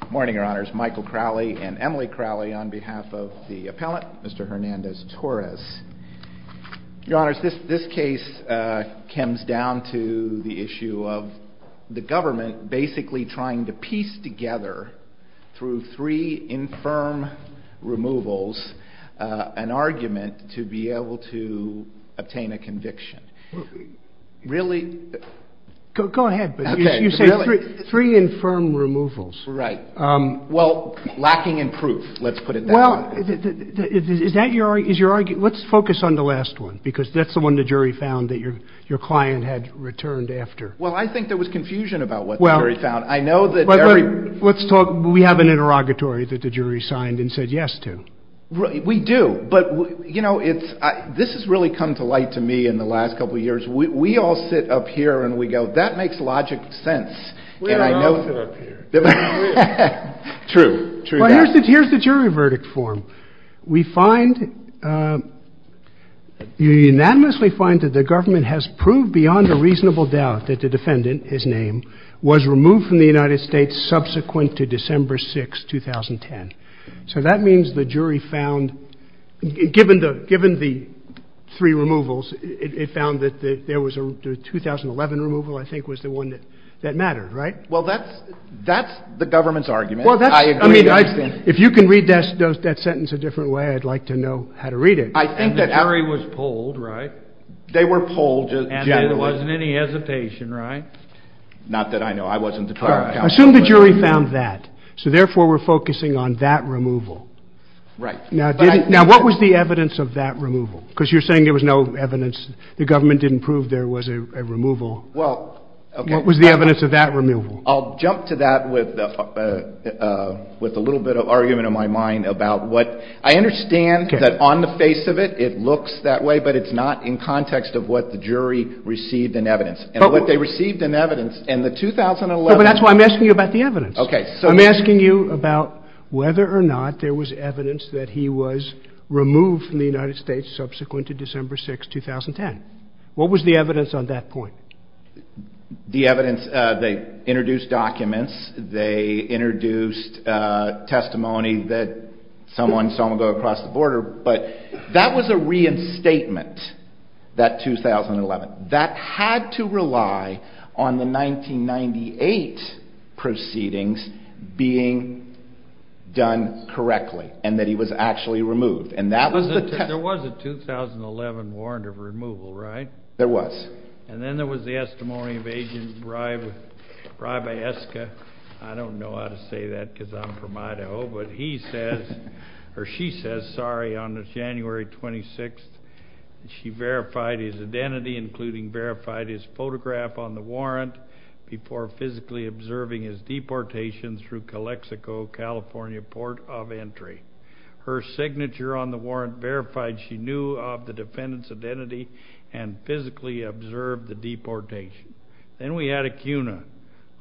Good morning, your honors. Michael Crowley and Emily Crowley on behalf of the appellant, Mr. Hernandez-Torres. Your honors, this case comes down to the issue of the government basically trying to piece together through three infirm removals an argument to be able to obtain a conviction. Really? Go ahead. You said three infirm removals. Right. Well, lacking in proof, let's put it that way. Let's focus on the last one because that's the one the jury found that your client had returned after. Well, I think there was confusion about what the jury found. I know that... We have an interrogatory that the jury signed and this has really come to light to me in the last couple of years. We all sit up here and we go, that makes logic sense. We don't all sit up here. True. True. Well, here's the jury verdict form. We find, you unanimously find that the government has proved beyond a reasonable doubt that the defendant, his name, was removed from the United States subsequent to December 6th, 2010. So that means the jury found, given the three removals, it found that there was a 2011 removal I think was the one that mattered, right? Well, that's the government's argument. I agree. If you can read that sentence a different way, I'd like to know how to read it. I think that... And the jury was polled, right? They were polled generally. And there wasn't any hesitation, right? Not that I know. I wasn't a part of that. So therefore, we're focusing on that removal. Right. Now, what was the evidence of that removal? Because you're saying there was no evidence. The government didn't prove there was a removal. Well, okay. What was the evidence of that removal? I'll jump to that with a little bit of argument in my mind about what... I understand that on the face of it, it looks that way, but it's not in context of what the jury received in evidence and what they received in evidence in the 2011... But that's why I'm asking you about the evidence. I'm asking you about whether or not there was evidence that he was removed from the United States subsequent to December 6, 2010. What was the evidence on that point? The evidence... They introduced documents. They introduced testimony that someone saw him go across the border. But that was a reinstatement, that 2011. That had to rely on the 1998 proceeding being done correctly and that he was actually removed. And that was the... There was a 2011 warrant of removal, right? There was. And then there was the testimony of Agent Brabaeska. I don't know how to say that because I'm from Idaho. But he says, or she says, sorry, on January 26th, she verified his identity, including verified his photograph on the warrant before physically observing his deportation through Calexico, California, Port of Entry. Her signature on the warrant verified she knew of the defendant's identity and physically observed the deportation. Then we had Acuna.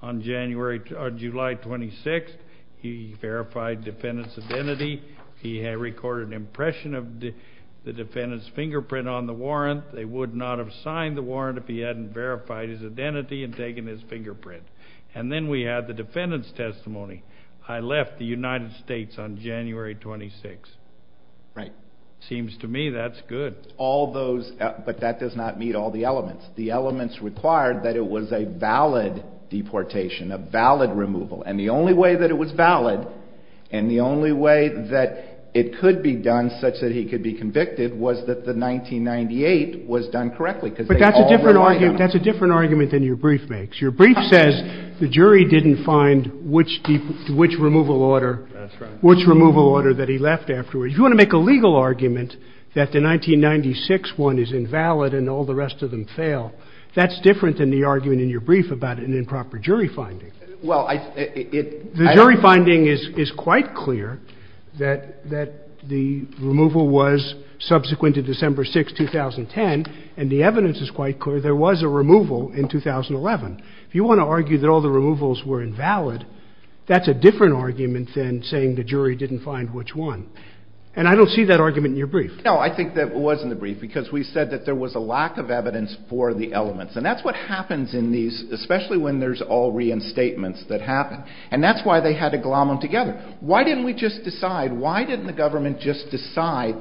On July 26th, he verified the defendant's identity. He had recorded an impression of the defendant's fingerprint on the warrant. They would not have signed the warrant if he hadn't verified his identity and taken his fingerprint. And then we had the defendant's testimony. I left the United States on January 26th. Right. Seems to me that's good. All those... But that does not meet all the elements. The elements required that it was a valid deportation, a valid removal. And the only way that it was valid and the only way that it could be done such that he could be convicted was that the 1998 was done correctly because they all relied on it. But that's a different argument than your brief makes. Your brief says the jury didn't find which removal order that he left afterwards. If you want to make a legal argument that the 1996 one is invalid and all the rest of them fail, that's different than the argument in your brief about an improper jury finding. Well, I... The jury finding is quite clear that the removal was subsequent to December 6th, 2010, and the evidence is quite clear there was a removal in 2011. If you want to argue that all the removals were invalid, that's a different argument than saying the jury didn't find which one. And I don't see that argument in your brief. No, I think that was in the brief because we said that there was a lack of evidence for the elements. And that's what happens in these, especially when there's all reinstatements that happen. And that's why they had to glom them together. Why didn't we just decide, why didn't the government just decide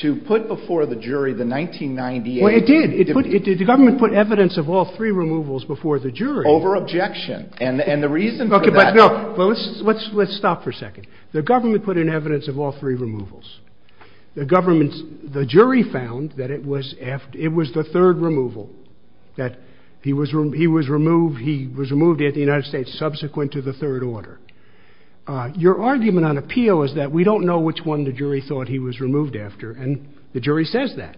to put before the jury the 1998? Well, it did. The government put evidence of all three removals before the jury. Over-objection. And the reason for that... Okay, but no. Let's stop for a second. The government put in evidence of all three removals. The government's – the jury found that it was the third removal, that he was removed at the United States subsequent to the third order. Your argument on appeal is that we don't know which one the jury thought he was removed after, and the jury says that.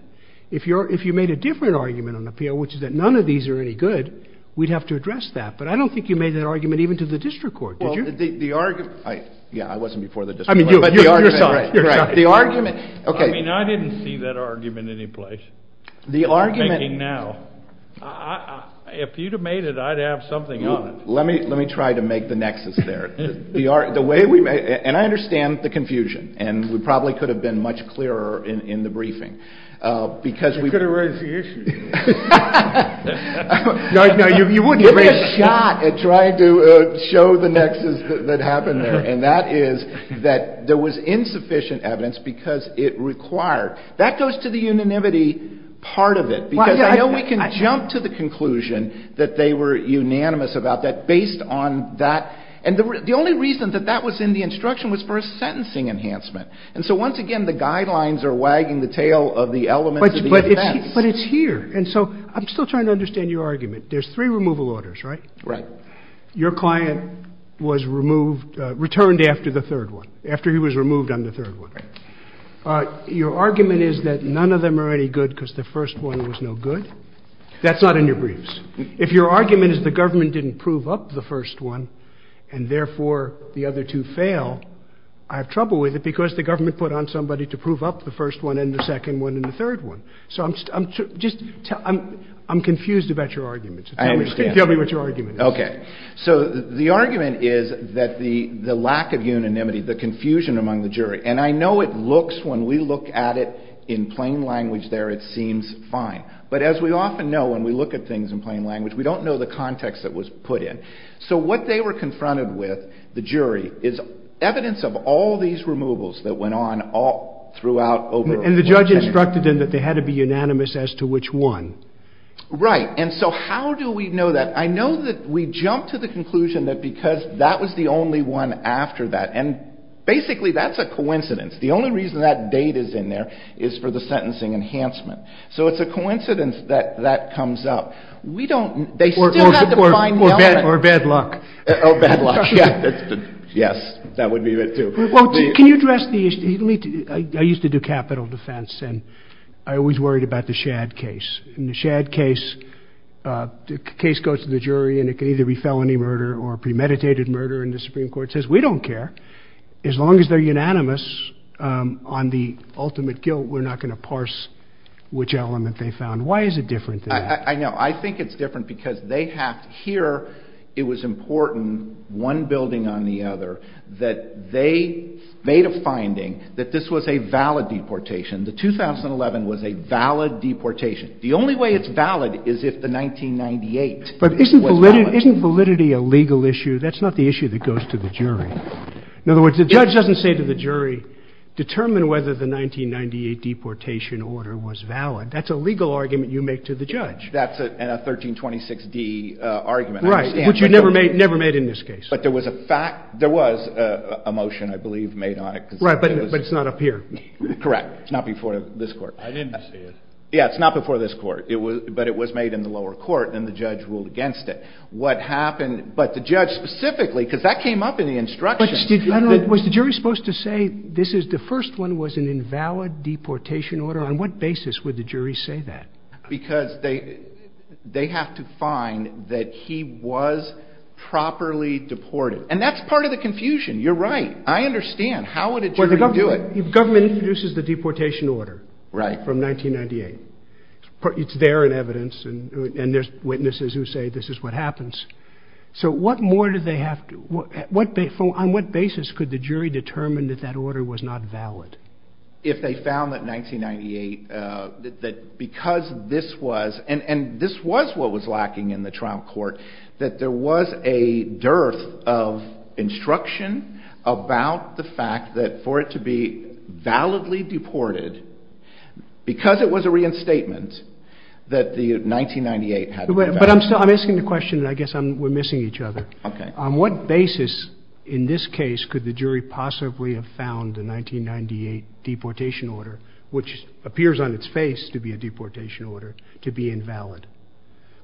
If you made a different argument on appeal, which is that none of these are any good, we'd have to address that. But I don't think you made that argument even to the district court, did you? Well, the argument – yeah, I wasn't before the district court. I mean, your side. Right, right. The argument – okay. I mean, I didn't see that argument any place. The argument – I'm thinking now. If you'd have made it, I'd have something on it. Let me try to make the nexus there. The way we – and I understand the confusion, and we probably could have been much clearer in the briefing, because we – You could have raised the issue. No, no, you wouldn't have raised it. Give me a shot at trying to show the nexus that happened there, and that is that there was insufficient evidence because it required – that goes to the unanimity part of it, because I know we can jump to the conclusion that they were unanimous about that based on that – and the only reason that that was in the instruction was for a sentencing enhancement. And so once again, the guidelines are wagging the tail of the elements of the offense. But it's here. And so I'm still trying to understand your argument. There's three removal orders, right? Right. Your client was removed – returned after the third one, after he was removed on the third one. Right. Your argument is that none of them are any good because the first one was no good. That's not in your briefs. If your argument is the government didn't prove up the first one and therefore the other two fail, I have trouble with it because the government put on somebody to prove up the first one and the second one and the third one. So I'm – just – I'm confused about your argument. I understand. Tell me what your argument is. Okay. So the argument is that the lack of unanimity, the confusion among the jury – and I know it looks, when we look at it in plain language there, it seems fine. But as we often know when we look at things in plain language, we don't know the context that was put in. So what they were confronted with, the jury, is evidence of all these removals that went on all – throughout over a long period. And the judge instructed them that they had to be unanimous as to which one. Right. And so how do we know that? I know that we jumped to the conclusion that because that was the only one after that – and basically that's a coincidence. The only reason that date is in there is for the sentencing enhancement. So it's a coincidence that that comes up. We don't – they still have to find the element. Or bad luck. Or bad luck. Yes, that would be it too. Well, can you address the issue – I used to do capital defense and I always worried about the Shad case. In the Shad case, the case goes to the jury and it can either be felony murder or premeditated murder and the Supreme Court says, we don't care. As long as they're unanimous on the ultimate guilt, we're not going to parse which element they found. Why is it different than that? I know. I think it's different because they have to hear it was important, one building on the other, that they made a finding that this was a valid deportation. The 2011 was a valid deportation. The only way it's valid is if the 1998 was valid. But isn't validity a legal issue? That's not the issue that goes to the jury. In other words, the judge doesn't say to the jury, determine whether the 1998 deportation order was valid. That's a legal argument you make to the judge. That's a 1326d argument. Right, which you never made in this case. But there was a fact – there was a motion, I believe, made on it. Right, but it's not up here. Correct. It's not before this Court. I didn't see it. Yeah, it's not before this Court, but it was made in the lower court and the judge ruled against it. What happened – but the judge specifically, because that came up in the instructions. But was the jury supposed to say this is – the first one was an invalid deportation order. On what basis would the jury say that? Because they have to find that he was properly deported. And that's part of the confusion. You're right. I understand. How would a jury do it? Well, the government introduces the deportation order from 1998. It's there in evidence, and there's witnesses who say this is what happens. So what more do they have to – on what basis could the jury determine that that order was not valid? If they found that 1998 – that because this was – and this was what was lacking in the trial court, that there was a dearth of instruction about the fact that for it to be validly deported, because it was a reinstatement, that the 1998 had to be valid. But I'm still – I'm asking the question, and I guess I'm – we're missing each other. On what basis, in this case, could the jury possibly have found the 1998 deportation order, which appears on its face to be a deportation order, to be invalid?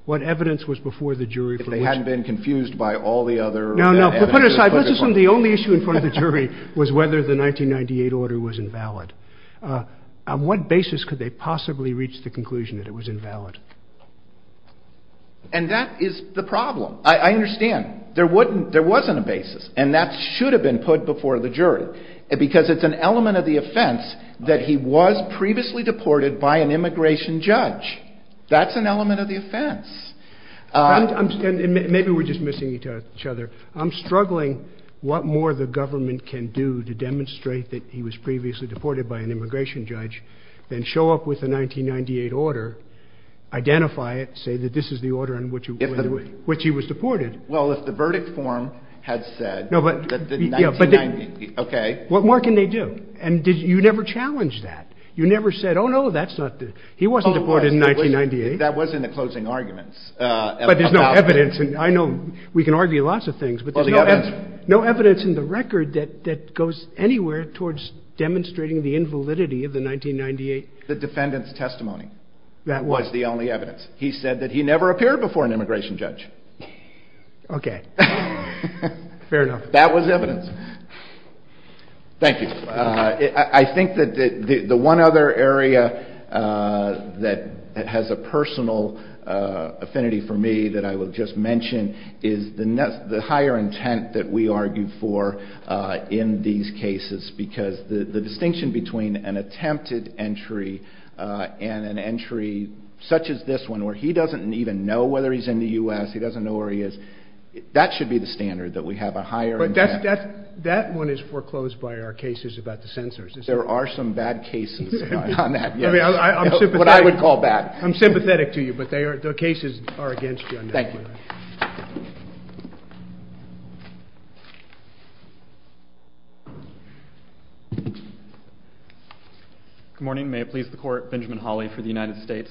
What evidence was before the jury for which – If they hadn't been confused by all the other evidence that was put before them. No, no. Put it aside. Let's assume the only issue in front of the jury was whether the 1998 order was invalid. On what basis could they possibly reach the conclusion that it was invalid? And that is the problem. I understand. There wasn't a basis, and that should have been put before the jury, because it's an element of the offense that he was previously deported by an immigration judge. That's an element of the offense. And maybe we're just missing each other. I'm struggling what more the government can do to demonstrate that he was previously deported by an immigration judge than show up with a 1998 order, identify it, say that this is the order in which he was deported. Well, if the verdict form had said that the 1990 – okay. What more can they do? And you never challenged that. You never said, oh, no, that's not the – he wasn't deported in 1998. That was in the closing arguments. But there's no evidence. And I know we can argue lots of things, but there's no evidence in the record that goes anywhere towards demonstrating the invalidity of the 1998 – The defendant's testimony was the only evidence. He said that he never appeared before an immigration judge. Okay. Fair enough. That was evidence. Thank you. I think that the one other area that has a personal affinity for me that I will just mention is the higher intent that we argue for in these cases, because the distinction between an attempted entry and an entry such as this one, where he doesn't even know whether he's in the U.S., he doesn't know where he is, that should be the standard, that we have a higher intent. But that one is foreclosed by our cases about the censors, isn't it? There are some bad cases on that, yes. I mean, I'm sympathetic – What I would call bad. I'm sympathetic to you, but they are – the cases are against you on that one. Good morning. May it please the Court. Benjamin Hawley for the United States.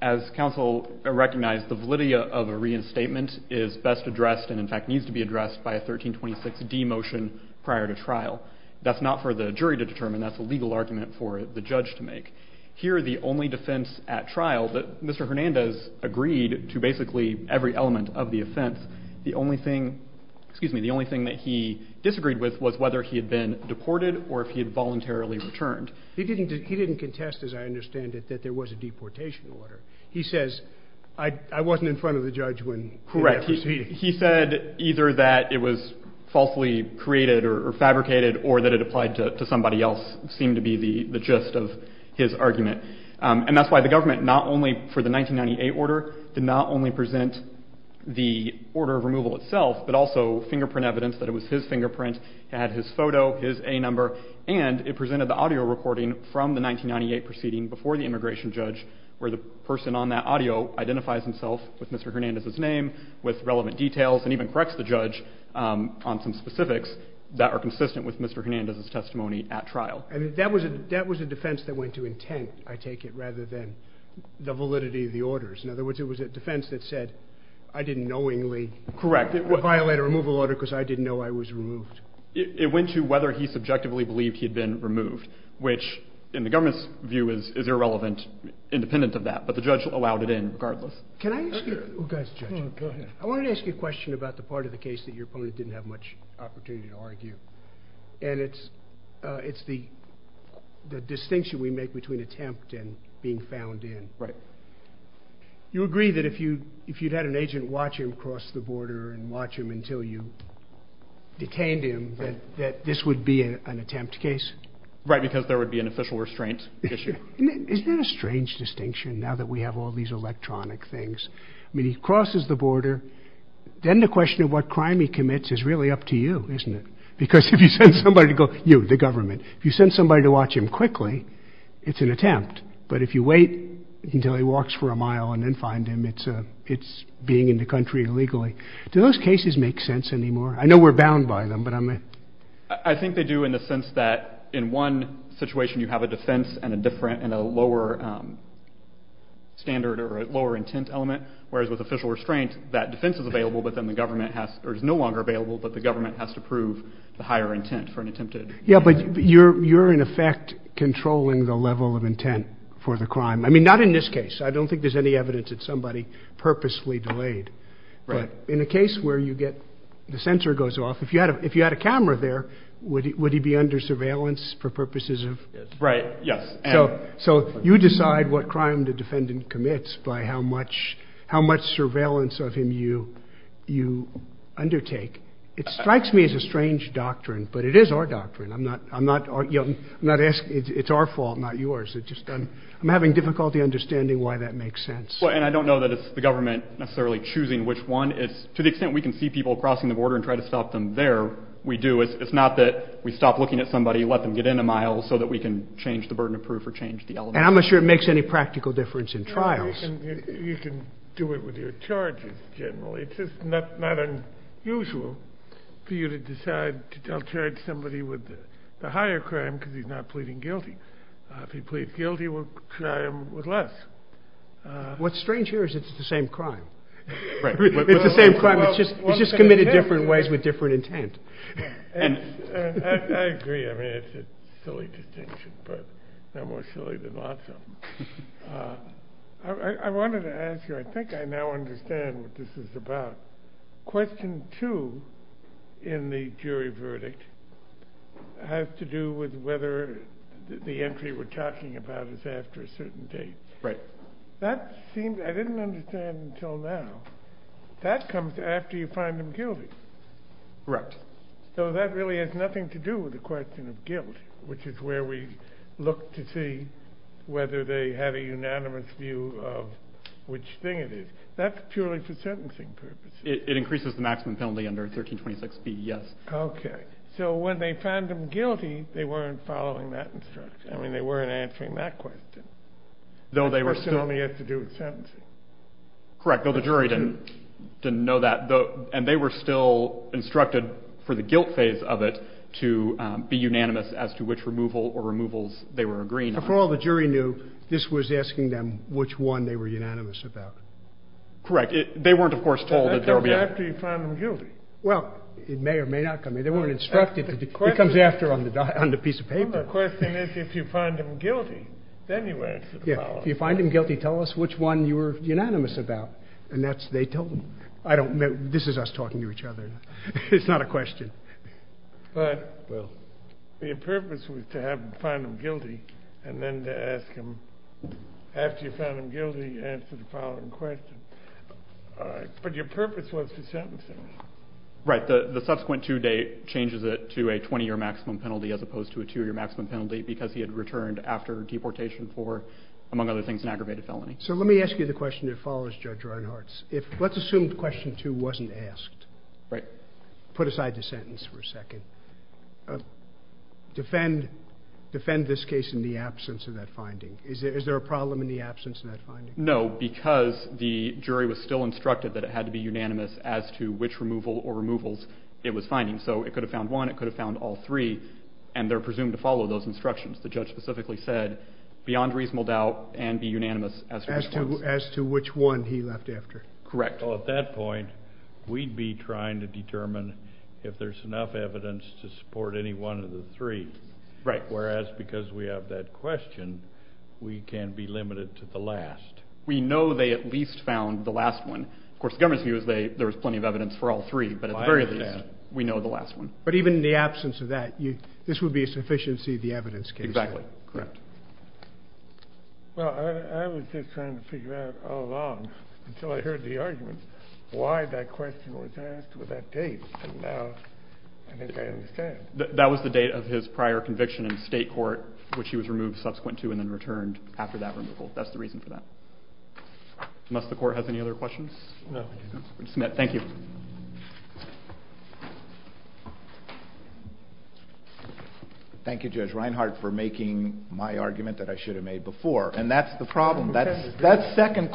As counsel recognized, the validity of a reinstatement is best addressed and, in fact, needs to be addressed by a 1326d motion prior to trial. That's not for the jury to determine. That's a legal argument for the judge to make. Here the only defense at trial that Mr. Hernandez agreed to basically every element of the offense. The only thing – excuse me – the only thing that he disagreed with was whether he had been deported or if he had voluntarily returned. He didn't contest, as I understand it, that there was a deportation order. He says, I wasn't in front of the judge when – Correct. He said either that it was falsely created or fabricated or that it applied to somebody else seemed to be the gist of his argument. And that's why the government not only for the 1998 order did not only present the order of removal itself, but also fingerprint evidence that it was his fingerprint, he had his photo, his A number, and it presented the audio recording from the 1998 proceeding before the immigration judge where the person on that audio identifies himself with Mr. Hernandez's name, with relevant details, and even corrects the judge on some specifics that are consistent with Mr. Hernandez's testimony at trial. And that was a defense that went to intent, I take it, rather than the validity of the orders. In other words, it was a defense that said, I didn't knowingly – Correct. Violate a removal order because I didn't know I was removed. It went to whether he subjectively believed he had been removed, which in the government's view is irrelevant, independent of that. But the judge allowed it in regardless. Can I ask you – oh, go ahead, Judge. I wanted to ask you a question about the part of the case that your opponent didn't have much opportunity to argue. And it's the distinction we make between attempt and being found in. Right. You agree that if you'd had an agent watch him cross the border and watch him until you detained him, that this would be an attempt case? Right, because there would be an official restraint issue. Isn't that a strange distinction, now that we have all these electronic things? I mean, he crosses the border. Then the question of what crime he commits is really up to you, isn't it? Because if you send somebody to go – you, the government – if you send somebody to watch him quickly, it's an attempt. But if you wait until he walks for a mile and then find him, it's being in the country illegally. Do those cases make sense anymore? I know we're bound by them, but I'm – I think they do in the sense that in one situation you have a defense and a different – and a lower standard or a lower intent element, whereas with official restraint, that defense is available, but then the government has – or is no longer available, but the government has to prove the higher intent for an attempted – Yeah, but you're in effect controlling the level of intent for the crime. I mean, not in this case. I don't think there's any evidence that somebody purposefully delayed. Right. In a case where you get – the sensor goes off, if you had a camera there, would he be under surveillance for purposes of – Right, yes. So you decide what crime the defendant commits by how much surveillance of him you undertake. It strikes me as a strange doctrine, but it is our doctrine. I'm not – I'm not – I'm not asking – it's our fault, not yours. It's just I'm having difficulty understanding why that makes sense. Well, and I don't know that it's the government necessarily choosing which one. It's – to the extent we can see people crossing the border and try to stop them there, we do. It's not that we stop looking at somebody, let them get in a mile so that we can change the burden of proof or change the element. And I'm not sure it makes any practical difference in trials. You can do it with your charges, generally. It's just not unusual for you to decide to charge somebody with the higher crime because he's not pleading guilty. If he pleads guilty, we'll try him with less. What's strange here is it's the same crime. Right. It's the same crime. It's just – it's just committed different ways with different intent. I agree. I mean, it's a silly distinction, but no more silly than lots of them. I wanted to ask you – I think I now understand what this is about. Question two in the jury verdict has to do with whether the entry we're talking about is after a certain date. Right. That seems – I didn't understand until now. That comes after you find him guilty. Correct. So that really has nothing to do with the question of guilt, which is where we look to see whether they have a unanimous view of which thing it is. That's purely for sentencing purposes. It increases the maximum penalty under 1326B, yes. Okay. So when they found him guilty, they weren't following that instruction. I mean, they weren't answering that question. Though they were still – It certainly has to do with sentencing. Correct. Though the jury didn't know that. And they were still instructed for the guilt phase of it to be unanimous as to which removal or removals they were agreeing on. For all the jury knew, this was asking them which one they were unanimous about. Correct. They weren't, of course, told that there would be a – That comes after you find him guilty. Well, it may or may not come – they weren't instructed – it comes after on the piece of paper. The question is if you find him guilty, then you answer the following. Well, if you find him guilty, tell us which one you were unanimous about. And that's – they told them. I don't – this is us talking to each other. It's not a question. But your purpose was to find him guilty and then to ask him – after you found him guilty, answer the following question. But your purpose was to sentence him. Right. The subsequent two-day changes it to a 20-year maximum penalty as opposed to a two-year maximum penalty because he had returned after deportation for, among other things, an aggravated felony. So let me ask you the question that follows, Judge Reinhart. Let's assume question two wasn't asked. Right. Put aside the sentence for a second. Defend this case in the absence of that finding. Is there a problem in the absence of that finding? No, because the jury was still instructed that it had to be unanimous as to which removal or removals it was finding. So it could have found one. It could have found all three. And they're presumed to follow those instructions. The judge specifically said, beyond reasonable doubt, and be unanimous as to which ones. As to which one he left after. Correct. Well, at that point, we'd be trying to determine if there's enough evidence to support any one of the three. Right. Whereas, because we have that question, we can be limited to the last. We know they at least found the last one. Of course, the government's view is there was plenty of evidence for all three. But at the very least, we know the last one. But even in the absence of that, this would be a sufficiency of the evidence case. Exactly. Correct. Well, I was just trying to figure out all along, until I heard the argument, why that question was asked with that date. And now I think I understand. That was the date of his prior conviction in state court, which he was removed subsequent to and then returned after that removal. That's the reason for that. Unless the Court has any other questions? No. Thank you. Thank you, Judge Reinhart, for making my argument that I should have made before. And that's the problem. That second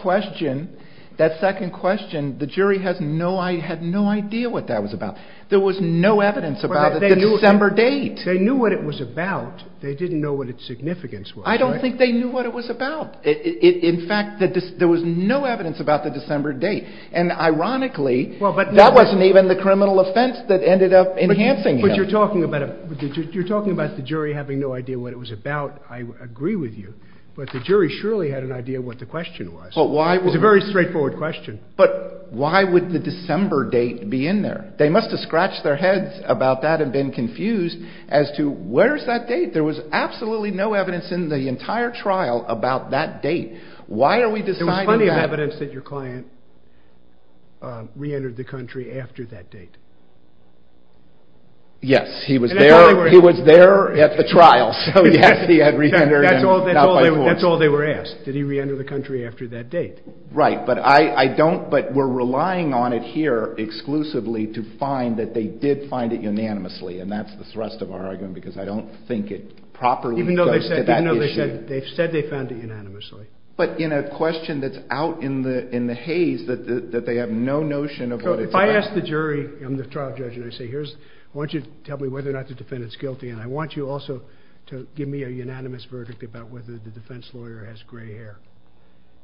question, the jury had no idea what that was about. There was no evidence about the December date. They knew what it was about. They didn't know what its significance was. I don't think they knew what it was about. In fact, there was no evidence about the December date. And ironically, that wasn't even the criminal offense that ended up enhancing him. But you're talking about the jury having no idea what it was about. I agree with you. But the jury surely had an idea what the question was. It was a very straightforward question. But why would the December date be in there? They must have scratched their heads about that and been confused as to where's that date? There was absolutely no evidence in the entire trial about that date. Why are we deciding that? There's plenty of evidence that your client reentered the country after that date. Yes. He was there at the trial. So, yes, he had reentered. That's all they were asked. Did he reenter the country after that date? Right. But we're relying on it here exclusively to find that they did find it unanimously. And that's the thrust of our argument because I don't think it properly goes to that issue. Even though they've said they found it unanimously. But in a question that's out in the haze that they have no notion of what it's about. If I ask the jury, I'm the trial judge, and I say, I want you to tell me whether or not the defendant's guilty, and I want you also to give me a unanimous verdict about whether the defense lawyer has gray hair.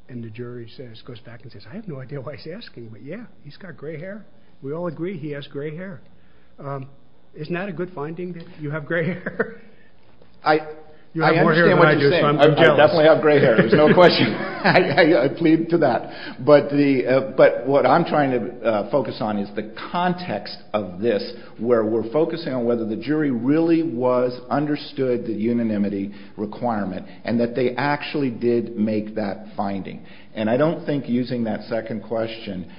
And the jury goes back and says, I have no idea why he's asking, but, yeah, he's got gray hair. We all agree he has gray hair. Isn't that a good finding that you have gray hair? I understand what you're saying. I definitely have gray hair. There's no question. I plead to that. But what I'm trying to focus on is the context of this, where we're focusing on whether the jury really was understood the unanimity requirement and that they actually did make that finding. And I don't think using that second question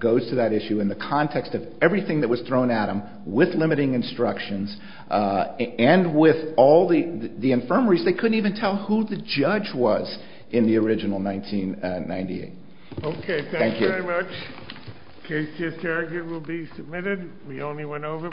goes to that issue. In the context of everything that was thrown at them with limiting instructions and with all the infirmaries, they couldn't even tell who the judge was in the original 1998. Okay. Thank you. Thank you very much. The case to this argument will be submitted. We only went over.